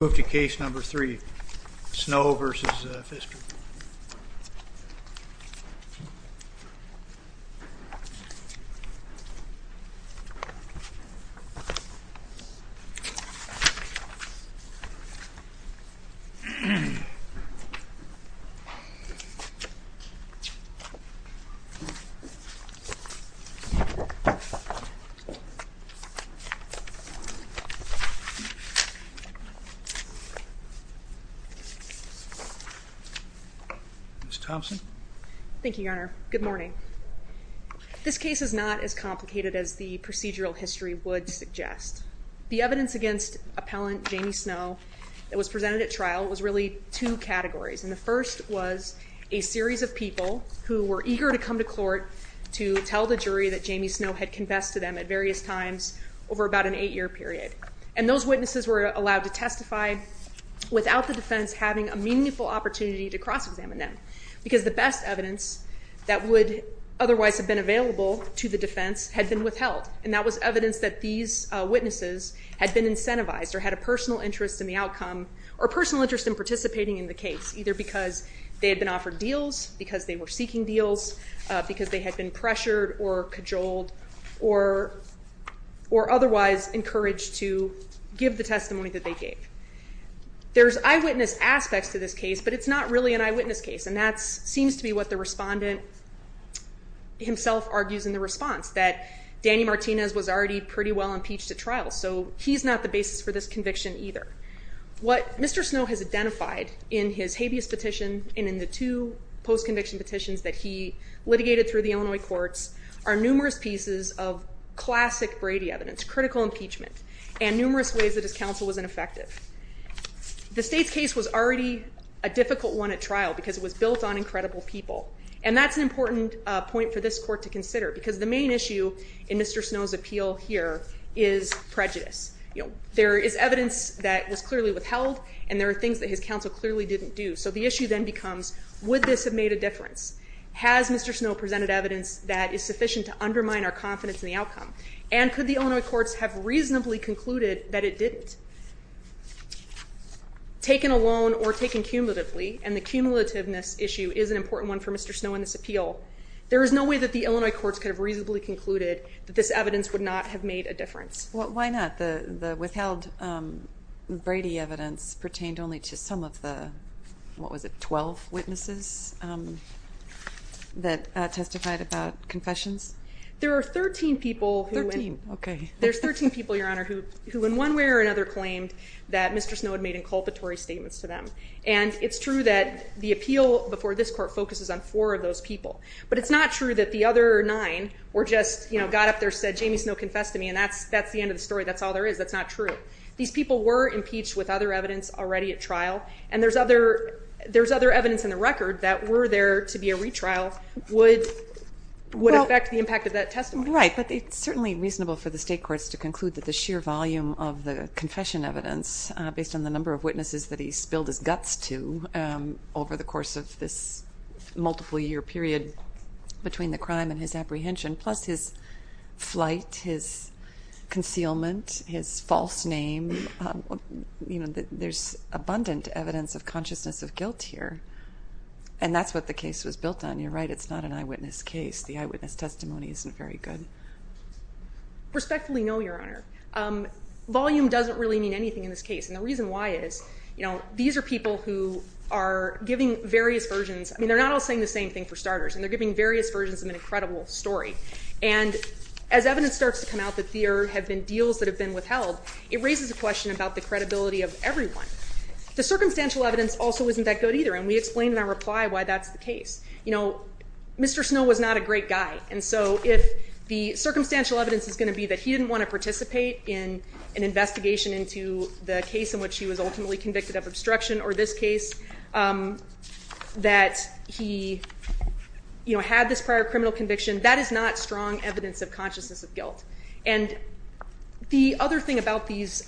Move to case number 3, Snow v. Pfister Ms. Thompson? Thank you, Your Honor. Good morning. This case is not as complicated as the procedural history would suggest. The evidence against appellant Jamie Snow that was presented at trial was really two categories and the first was a series of people who were eager to come to court to tell the jury that Jamie Snow had confessed to them at various times over about an eight-year period and those witnesses were allowed to testify without the defense having a meaningful opportunity to cross-examine them because the best evidence that would otherwise have been available to the defense had been withheld and that was evidence that these witnesses had been incentivized or had a personal interest in the outcome or personal interest in participating in the case either because they had been offered deals, because they were seeking courage to give the testimony that they gave. There's eyewitness aspects to this case but it's not really an eyewitness case and that seems to be what the respondent himself argues in the response that Danny Martinez was already pretty well impeached at trial so he's not the basis for this conviction either. What Mr. Snow has identified in his habeas petition and in the two post-conviction petitions that he litigated through the Illinois courts are numerous pieces of classic Brady evidence, critical impeachment and numerous ways that his counsel was ineffective. The state's case was already a difficult one at trial because it was built on incredible people and that's an important point for this court to consider because the main issue in Mr. Snow's appeal here is prejudice. There is evidence that was clearly withheld and there are things that his counsel clearly didn't do so the issue then becomes would this have made a difference? Has Mr. Snow presented evidence that is sufficient to undermine our confidence in the outcome and could the Illinois courts have reasonably concluded that it didn't? Taken alone or taken cumulatively and the cumulativeness issue is an important one for Mr. Snow in this appeal. There is no way that the Illinois courts could have reasonably concluded that this evidence would not have made a difference. Why not? The withheld Brady evidence pertained only to some of the, what was it, 12 witnesses that testified about confessions? There are 13 people. 13, okay. There's 13 people your honor who in one way or another claimed that Mr. Snow had made inculpatory statements to them and it's true that the appeal before this court focuses on four of those people but it's not true that the other nine were just you know got up there said Jamie Snow confessed to me and that's that's the end of the story that's all there is that's not true. These people were impeached with other evidence already at trial and there's other there's other evidence in the record that were there to be a retrial would would affect the impact of that testimony. Right but it's certainly reasonable for the state courts to conclude that the sheer volume of the confession evidence based on the number of witnesses that he spilled his guts to over the course of this multiple year period between the crime and his apprehension plus his flight, his concealment, his false name, you know there's abundant evidence of consciousness of guilt here and that's what the case was built on you're right it's not an eyewitness case the eyewitness testimony isn't very good. Respectfully no your honor. Volume doesn't really mean anything in this case and the reason why is you know these are people who are giving various versions I mean they're not all saying the same thing for starters and they're giving various versions of an incredible story and as evidence starts to come out that there have been deals that have withheld it raises a question about the credibility of everyone. The circumstantial evidence also isn't that good either and we explained in our reply why that's the case. You know Mr. Snow was not a great guy and so if the circumstantial evidence is going to be that he didn't want to participate in an investigation into the case in which he was ultimately convicted of obstruction or this case that he you know had this prior criminal conviction that is not strong evidence of consciousness of guilt and the other thing about these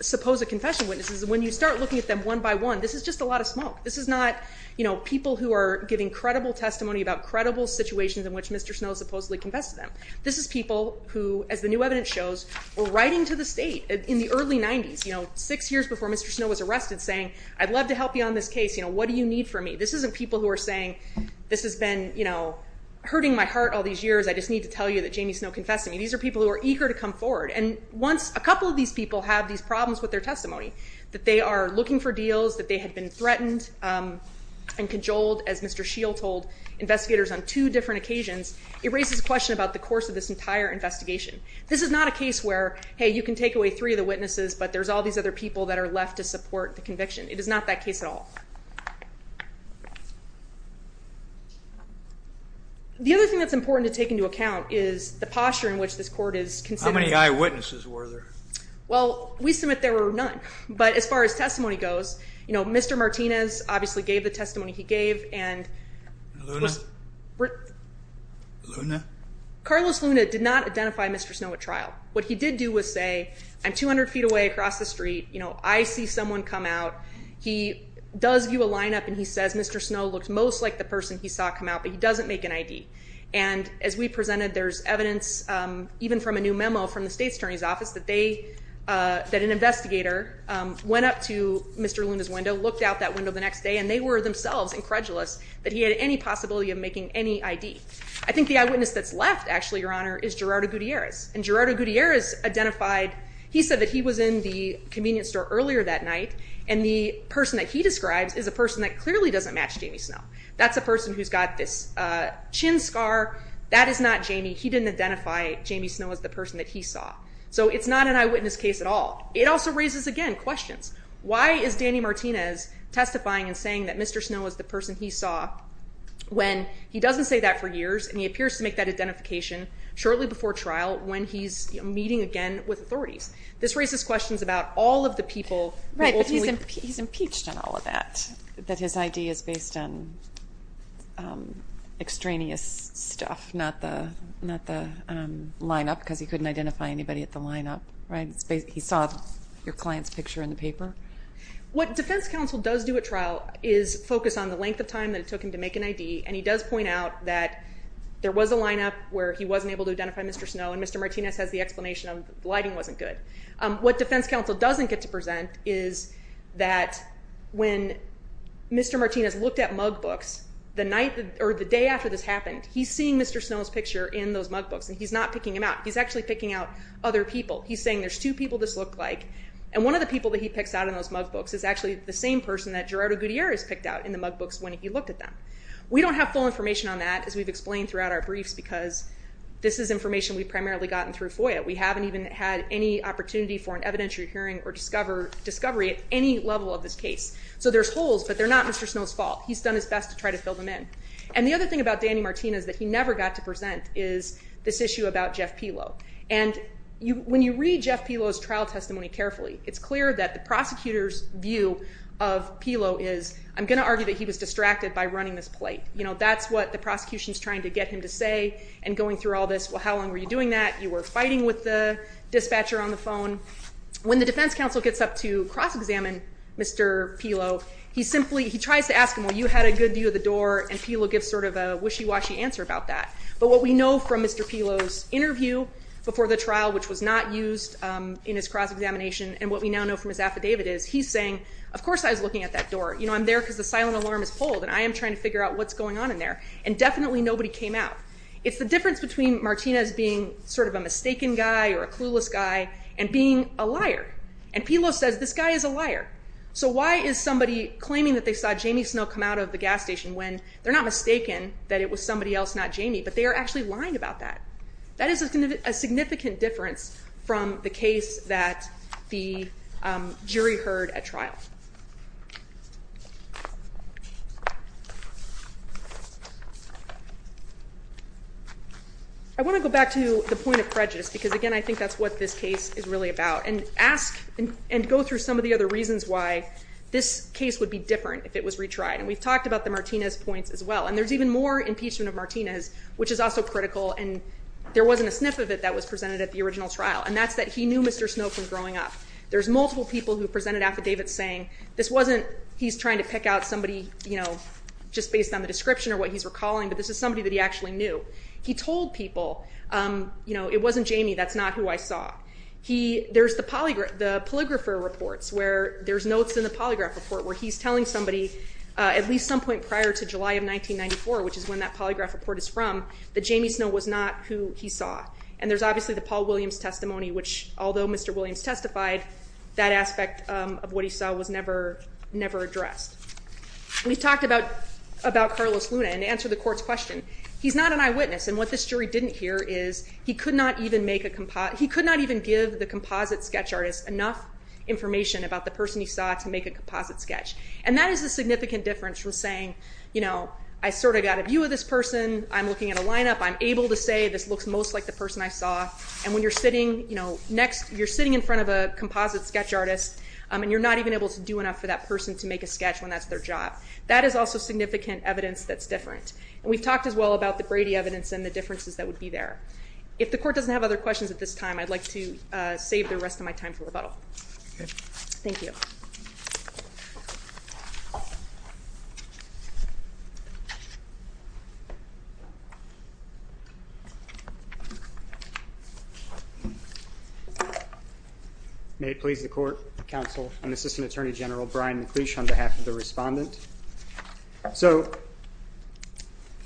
supposed confession witnesses is when you start looking at them one by one this is just a lot of smoke this is not you know people who are giving credible testimony about credible situations in which Mr. Snow supposedly confessed to them. This is people who as the new evidence shows were writing to the state in the early 90s you know six years before Mr. Snow was arrested saying I'd love to help you on this case you know what do you need from me this isn't people who are saying this has been you know hurting my heart all these years I just need to tell you that Jamie Snow confessed to me these are people who are eager to come forward and once a couple of these people have these problems with their testimony that they are looking for deals that they had been threatened and cajoled as Mr. Shield told investigators on two different occasions it raises a question about the course of this entire investigation. This is not a case where hey you can take away three of the witnesses but there's all these other people that are left to support the conviction it is not that case at all. The other thing that's important to take into account is the posture in which this court is considering. How many eyewitnesses were there? Well we submit there were none but as far as testimony goes you know Mr. Martinez obviously gave the testimony he gave and Carlos Luna did not identify Mr. Snow at trial what he did do was say I'm 200 feet away across the street you know I see someone come out he does view a lineup and he says Mr. Snow looks most like the person he saw come out but he doesn't make an ID and as we presented there's evidence even from a new memo from the state attorney's office that they that an investigator went up to Mr. Luna's window looked out that window the next day and they were themselves incredulous that he had any possibility of making any ID. I think the eyewitness that's left actually your honor is Gerardo Gutierrez and Gerardo Gutierrez identified he said that he was in the convenience store earlier that night and the person that he describes is a person that clearly doesn't match Jamie Snow. That's a person who's got this chin scar that is not Jamie he didn't identify Jamie Snow as the person that he saw so it's not an eyewitness case at all. It also raises again questions why is Danny Martinez testifying and saying that Mr. Snow was the person he saw when he doesn't say that for years and he appears to make that identification shortly before trial when he's meeting again with authorities. This raises questions about all of the people. Right he's impeached on all of that that his ID is based on extraneous stuff not the not the lineup because he couldn't identify anybody at the lineup right he saw your client's picture in the paper. What defense counsel does do at trial is focus on the length of time that it took him to make an ID and he does point out that there was a lineup where he wasn't able to identify Mr. Snow and Mr. Martinez has the explanation of the what defense counsel doesn't get to present is that when Mr. Martinez looked at mug books the night or the day after this happened he's seeing Mr. Snow's picture in those mug books and he's not picking him out he's actually picking out other people he's saying there's two people this looked like and one of the people that he picks out in those mug books is actually the same person that Gerardo Gutierrez picked out in the mug books when he looked at them. We don't have full information on that as we've explained throughout our briefs because this is information we primarily gotten through FOIA. We haven't even had any opportunity for an evidentiary hearing or discover discovery at any level of this case so there's holes but they're not Mr. Snow's fault he's done his best to try to fill them in and the other thing about Danny Martinez that he never got to present is this issue about Jeff Pelo and you when you read Jeff Pelo's trial testimony carefully it's clear that the prosecutors view of Pelo is I'm gonna argue that he was distracted by running this plate you know that's what the prosecution is trying to get him to say and going through all this well how long were you doing that you were fighting with the dispatcher on the phone when the defense counsel gets up to cross-examine Mr. Pelo he simply he tries to ask him well you had a good view of the door and Pelo gives sort of a wishy-washy answer about that but what we know from Mr. Pelo's interview before the trial which was not used in his cross-examination and what we now know from his affidavit is he's saying of course I was looking at that door you know I'm there because the silent alarm is pulled and I am trying to figure out what's going on in there and definitely nobody came out. It's the difference between Martinez being sort of a mistaken guy or a clueless guy and being a liar and Pelo says this guy is a liar so why is somebody claiming that they saw Jamie Snow come out of the gas station when they're not mistaken that it was somebody else not Jamie but they are actually lying about that that is a significant difference from the case that the jury heard at trial. I want to go back to the point of prejudice because again I think that's what this case is really about and ask and go through some of the other reasons why this case would be different if it was retried and we've talked about the Martinez points as well and there's even more impeachment of Martinez which is also critical and there wasn't a sniff of it that was presented at the original trial and that's that he knew Mr. Snow from growing up there's multiple people who presented affidavits saying this wasn't he's trying to pick out somebody you know just based on the description or what he's recalling but this is that he actually knew he told people you know it wasn't Jamie that's not who I saw he there's the polygraph the polygrapher reports where there's notes in the polygraph report where he's telling somebody at least some point prior to July of 1994 which is when that polygraph report is from that Jamie Snow was not who he saw and there's obviously the Paul Williams testimony which although mr. Williams testified that aspect of what he saw was never never we've talked about about Carlos Luna and answer the court's question he's not an eyewitness and what this jury didn't hear is he could not even make a composite he could not even give the composite sketch artist enough information about the person he saw to make a composite sketch and that is a significant difference from saying you know I sort of got a view of this person I'm looking at a lineup I'm able to say this looks most like the person I saw and when you're sitting you know next you're sitting in front of a composite sketch artist and you're not even able to do enough for that person to make a sketch when that's their job that is also significant evidence that's different and we've talked as well about the Brady evidence and the differences that would be there. If the court doesn't have other questions at this time I'd like to save the rest of my time for rebuttal. Thank you. May it please the court, counsel and assistant attorney general Brian Klish on behalf of the respondent. So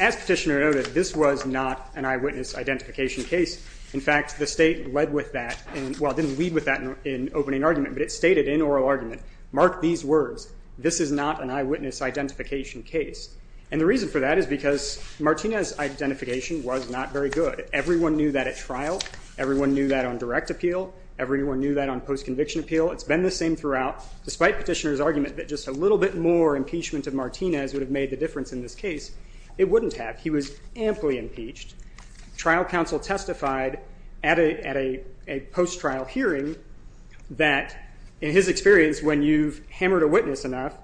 as petitioner noted this was not an eyewitness identification case in fact the state led with that and well didn't lead with that in opening argument but it stated in oral argument mark these words this is not an eyewitness identification case and the reason for that is because Martinez identification was not very good everyone knew that at trial everyone knew that on direct appeal everyone knew that on post conviction appeal it's been the same throughout despite petitioner's that just a little bit more impeachment of Martinez would have made the difference in this case it wouldn't have he was amply impeached. Trial counsel testified at a post trial hearing that in his experience when you've hammered a witness enough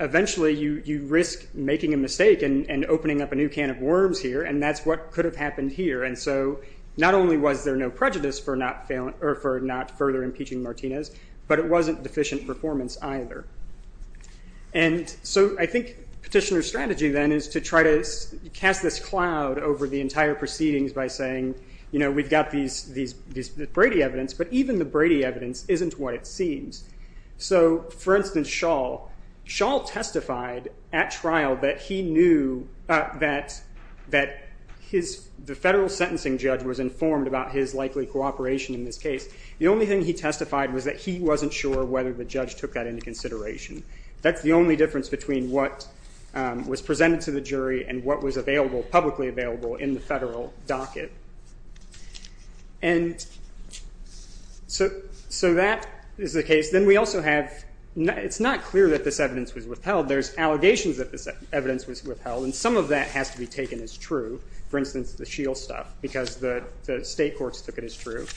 eventually you you risk making a mistake and opening up a new can of worms here and that's what could have happened here and so not only was there no prejudice for not further impeaching Martinez but it wasn't deficient performance either and so I think petitioner's strategy then is to try to cast this cloud over the entire proceedings by saying you know we've got these Brady evidence but even the Brady evidence isn't what it seems. So for instance Shawl, Shawl testified at trial that he knew that the federal sentencing judge was informed about his likely cooperation in this case the only thing he testified was that he wasn't sure whether the judge took that into consideration that's the only difference between what was presented to the jury and what was available publicly available in the federal docket and so that is the case then we also have it's not clear that this evidence was withheld there's allegations that this evidence was withheld and some of that has to be state courts took it as true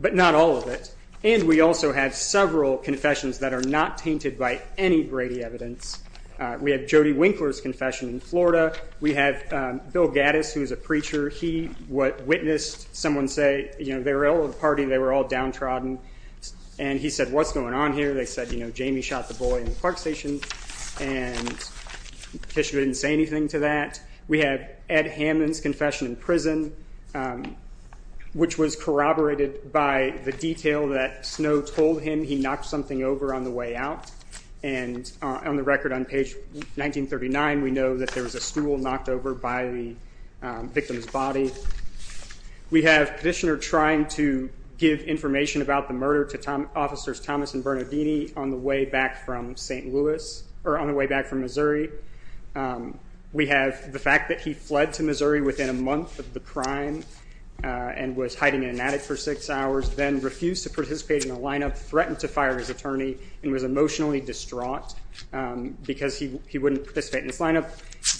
but not all of it and we also have several confessions that are not tainted by any Brady evidence we have Jody Winkler's confession in Florida we have Bill Gattis who's a preacher he what witnessed someone say you know they were all at the party they were all downtrodden and he said what's going on here they said you know Jamie shot the boy in the park station and the petitioner didn't say anything to that we have Ed Hammond's confession in prison which was corroborated by the detail that Snow told him he knocked something over on the way out and on the record on page 1939 we know that there was a stool knocked over by the victim's body we have petitioner trying to give information about the murder to officers Thomas and Bernardini on the way back from St. Louis or on the way that he fled to Missouri within a month of the crime and was hiding in an attic for six hours then refused to participate in a lineup threatened to fire his attorney and was emotionally distraught because he wouldn't participate in this lineup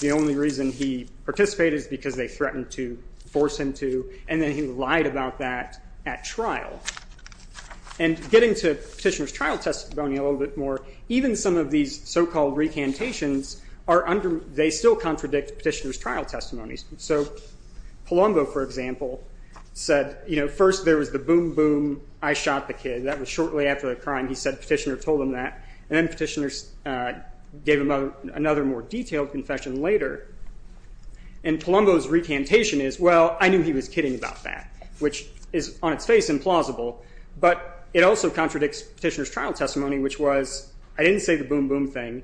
the only reason he participated is because they threatened to force him to and then he lied about that at trial and getting to petitioner's trial testimony a little bit more even some of these so-called recantations are under they still contradict petitioner's trial testimonies so Palumbo for example said you know first there was the boom boom I shot the kid that was shortly after the crime he said petitioner told him that and then petitioners gave him another more detailed confession later and Palumbo's recantation is well I knew he was kidding about that which is on its face implausible but it also contradicts petitioner's trial testimony which was I never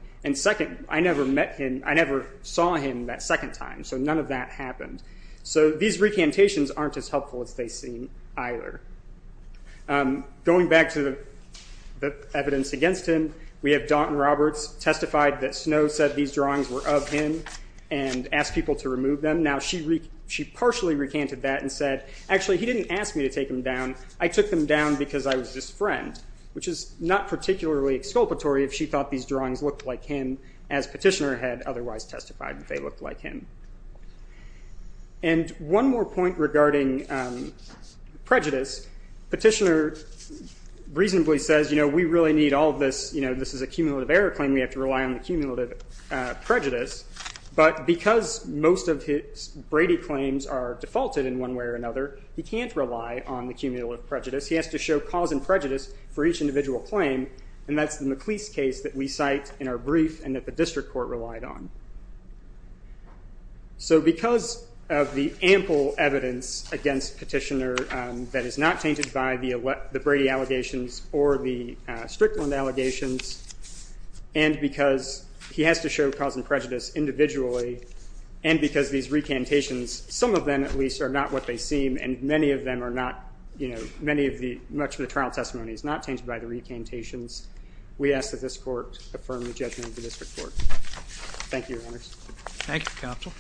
met him I never saw him that second time so none of that happened so these recantations aren't as helpful as they seem either going back to the evidence against him we have Daunton Roberts testified that Snow said these drawings were of him and asked people to remove them now she partially recanted that and said actually he didn't ask me to take him down I took them down because I was his friend which is not particularly exculpatory if she thought these drawings looked like him as petitioner had otherwise testified that they looked like him and one more point regarding prejudice petitioner reasonably says you know we really need all this you know this is a cumulative error claim we have to rely on the cumulative prejudice but because most of his Brady claims are defaulted in one way or another he can't rely on the cumulative prejudice he has to show cause and prejudice for each individual claim and that's the McLeese case that we cite in our brief and that the district court relied on so because of the ample evidence against petitioner that is not tainted by the elect the Brady allegations or the Strickland allegations and because he has to show cause and prejudice individually and because these recantations some of them at least are not what they seem and many of them are not you know many of the much of the trial testimony is not tainted by the recantations we ask that this court affirm the judgment of the district court thank you thank you counsel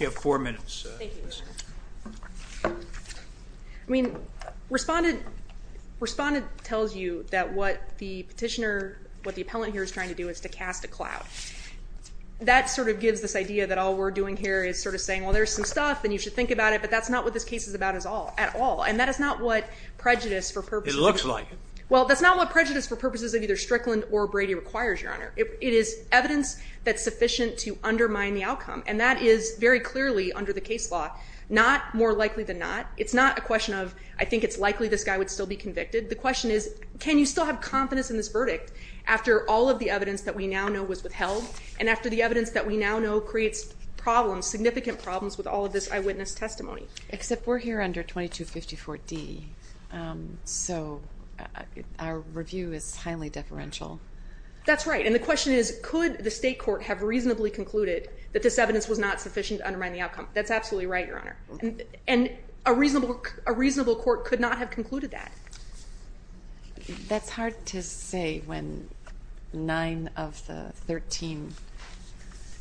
you have four minutes I mean responded responded tells you that what the petitioner what the appellant here is trying to do is to cast a cloud that sort of gives this idea that all we're doing here is sort of saying well there's some stuff and you should think about it but that's not what this case is about is all at all and that is not what prejudice for purpose it looks like well that's not what prejudice for purposes of either Strickland or Brady requires your honor it is evidence that's sufficient to undermine the outcome and that is very clearly under the case law not more likely than not it's not a question of I think it's likely this guy would still be convicted the question is can you still have confidence in this verdict after all of the evidence that we now know was withheld and after the evidence that we now know creates problems significant problems with all of this eyewitness testimony except we're here under 2254 D so our review is highly deferential that's right and the question is could the state court have reasonably concluded that this evidence was not sufficient to undermine the outcome that's absolutely right your honor and a reasonable a reasonable court could not have concluded that that's hard to say when nine of the 13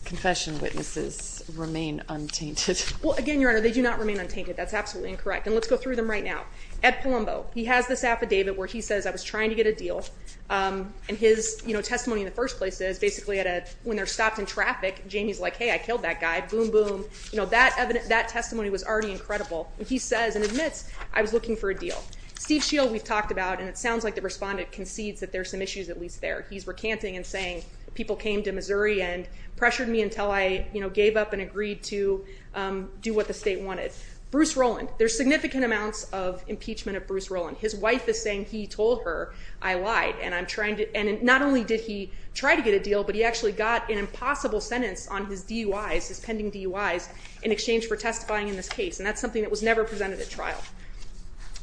confession witnesses remain untainted well again your honor they do not remain untainted that's absolutely incorrect and let's go through them right now at Palumbo he has this affidavit where he says I was trying to get a deal and his you know testimony in the first place is basically at a when they're stopped in traffic Jamie's like hey I killed that guy boom boom you know that evident that testimony was already incredible and he says and admits I was looking for a deal Steve Shield we've talked about and it sounds like the respondent concedes that there's some issues at least there he's recanting and saying people came to Missouri and pressured me until I you know gave up and agreed to do what the state wanted Bruce Roland there's significant amounts of impeachment of Bruce Roland his wife is saying he told her I lied and I'm trying to and not only did he try to get a deal but he actually got an impossible sentence on his DUI's his pending DUI's in exchange for testifying in this case and that's something that was never presented at trial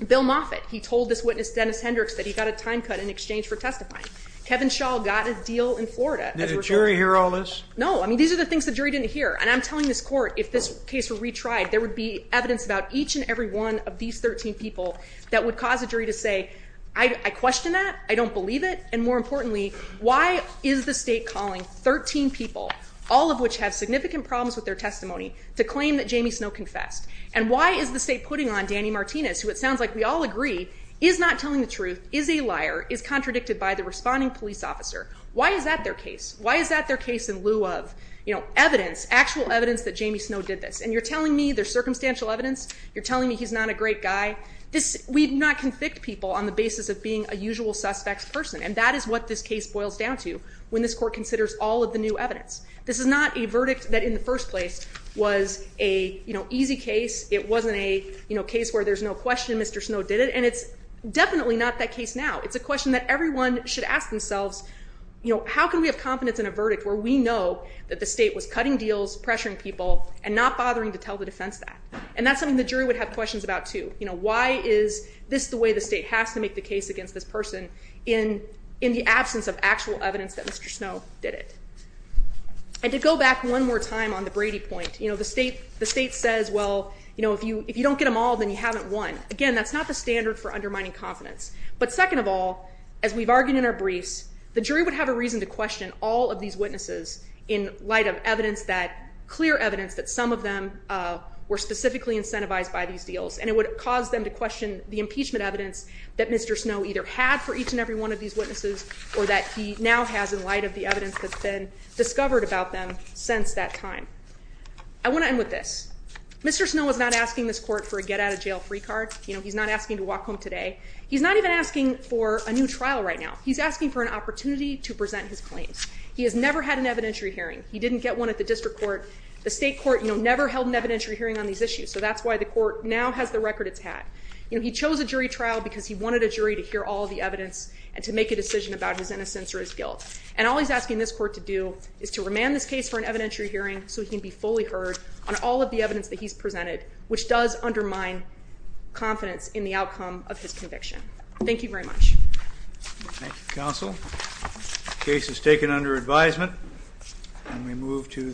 Bill Moffitt he told this witness Dennis Hendricks that he got a time cut in exchange for testifying Kevin Shaw got a deal in Florida did a jury hear all this no I mean these are the things the jury didn't hear and I'm telling this court if this case were retried there would be evidence about each and every one of these 13 people that would cause a jury to say I question that I don't believe it and more importantly why is the state calling 13 people all of which have significant problems with their testimony to claim that Jamie Snow confessed and why is the state putting on Danny Martinez who it sounds like we all agree is not telling the truth is a liar is contradicted by the responding police officer why is that their case why is that their case in lieu of you know evidence actual evidence that Jamie Snow did this and you're telling me there's circumstantial evidence you're telling me he's not a great guy this we do not convict people on the basis of being a usual suspects person and that is what this case boils down to when this court considers all of the new evidence this is not a verdict that in the first place was a you know easy case it wasn't a you know case where there's no question mr. snow did it and it's definitely not that case now it's a question that everyone should ask themselves you know how can we have confidence in a verdict where we know that the state was cutting deals pressuring people and not bothering to tell the defense that and that's something the jury would have questions about to you know why is this the way the state has to make the case against this person in in the absence of actual evidence that mr. snow did it and to go back one more time on the Brady point you know the state the state says well you know if you if you don't get them all then you haven't won again that's not the standard for undermining confidence but second of all as we've argued in our briefs the jury would have a reason to question all of these witnesses in light of evidence that clear evidence that some of them were specifically incentivized by these deals and it would cause them to question the impeachment evidence that mr. snow either had for each and every one of these witnesses or that he now has in light of the evidence that's been discovered about them since that time I want to end with this mr. snow was not asking this court for a get out of jail free card you know he's not asking to walk home today he's not even asking for a new trial right now he's asking for an opportunity to present his claims he has never had an evidentiary hearing he didn't get one at the district court the state court you know never held an evidentiary hearing on these issues so that's why the court now has the record it's had you know he chose a jury trial because he wanted a jury to hear all the evidence and to make a decision about his innocence or his guilt and all he's asking this court to do is to remand this case for an evidentiary hearing so he can be fully heard on all of the evidence that he's presented which does undermine confidence in the outcome of his conviction thank you very much counsel case is taken under advisement and we move to the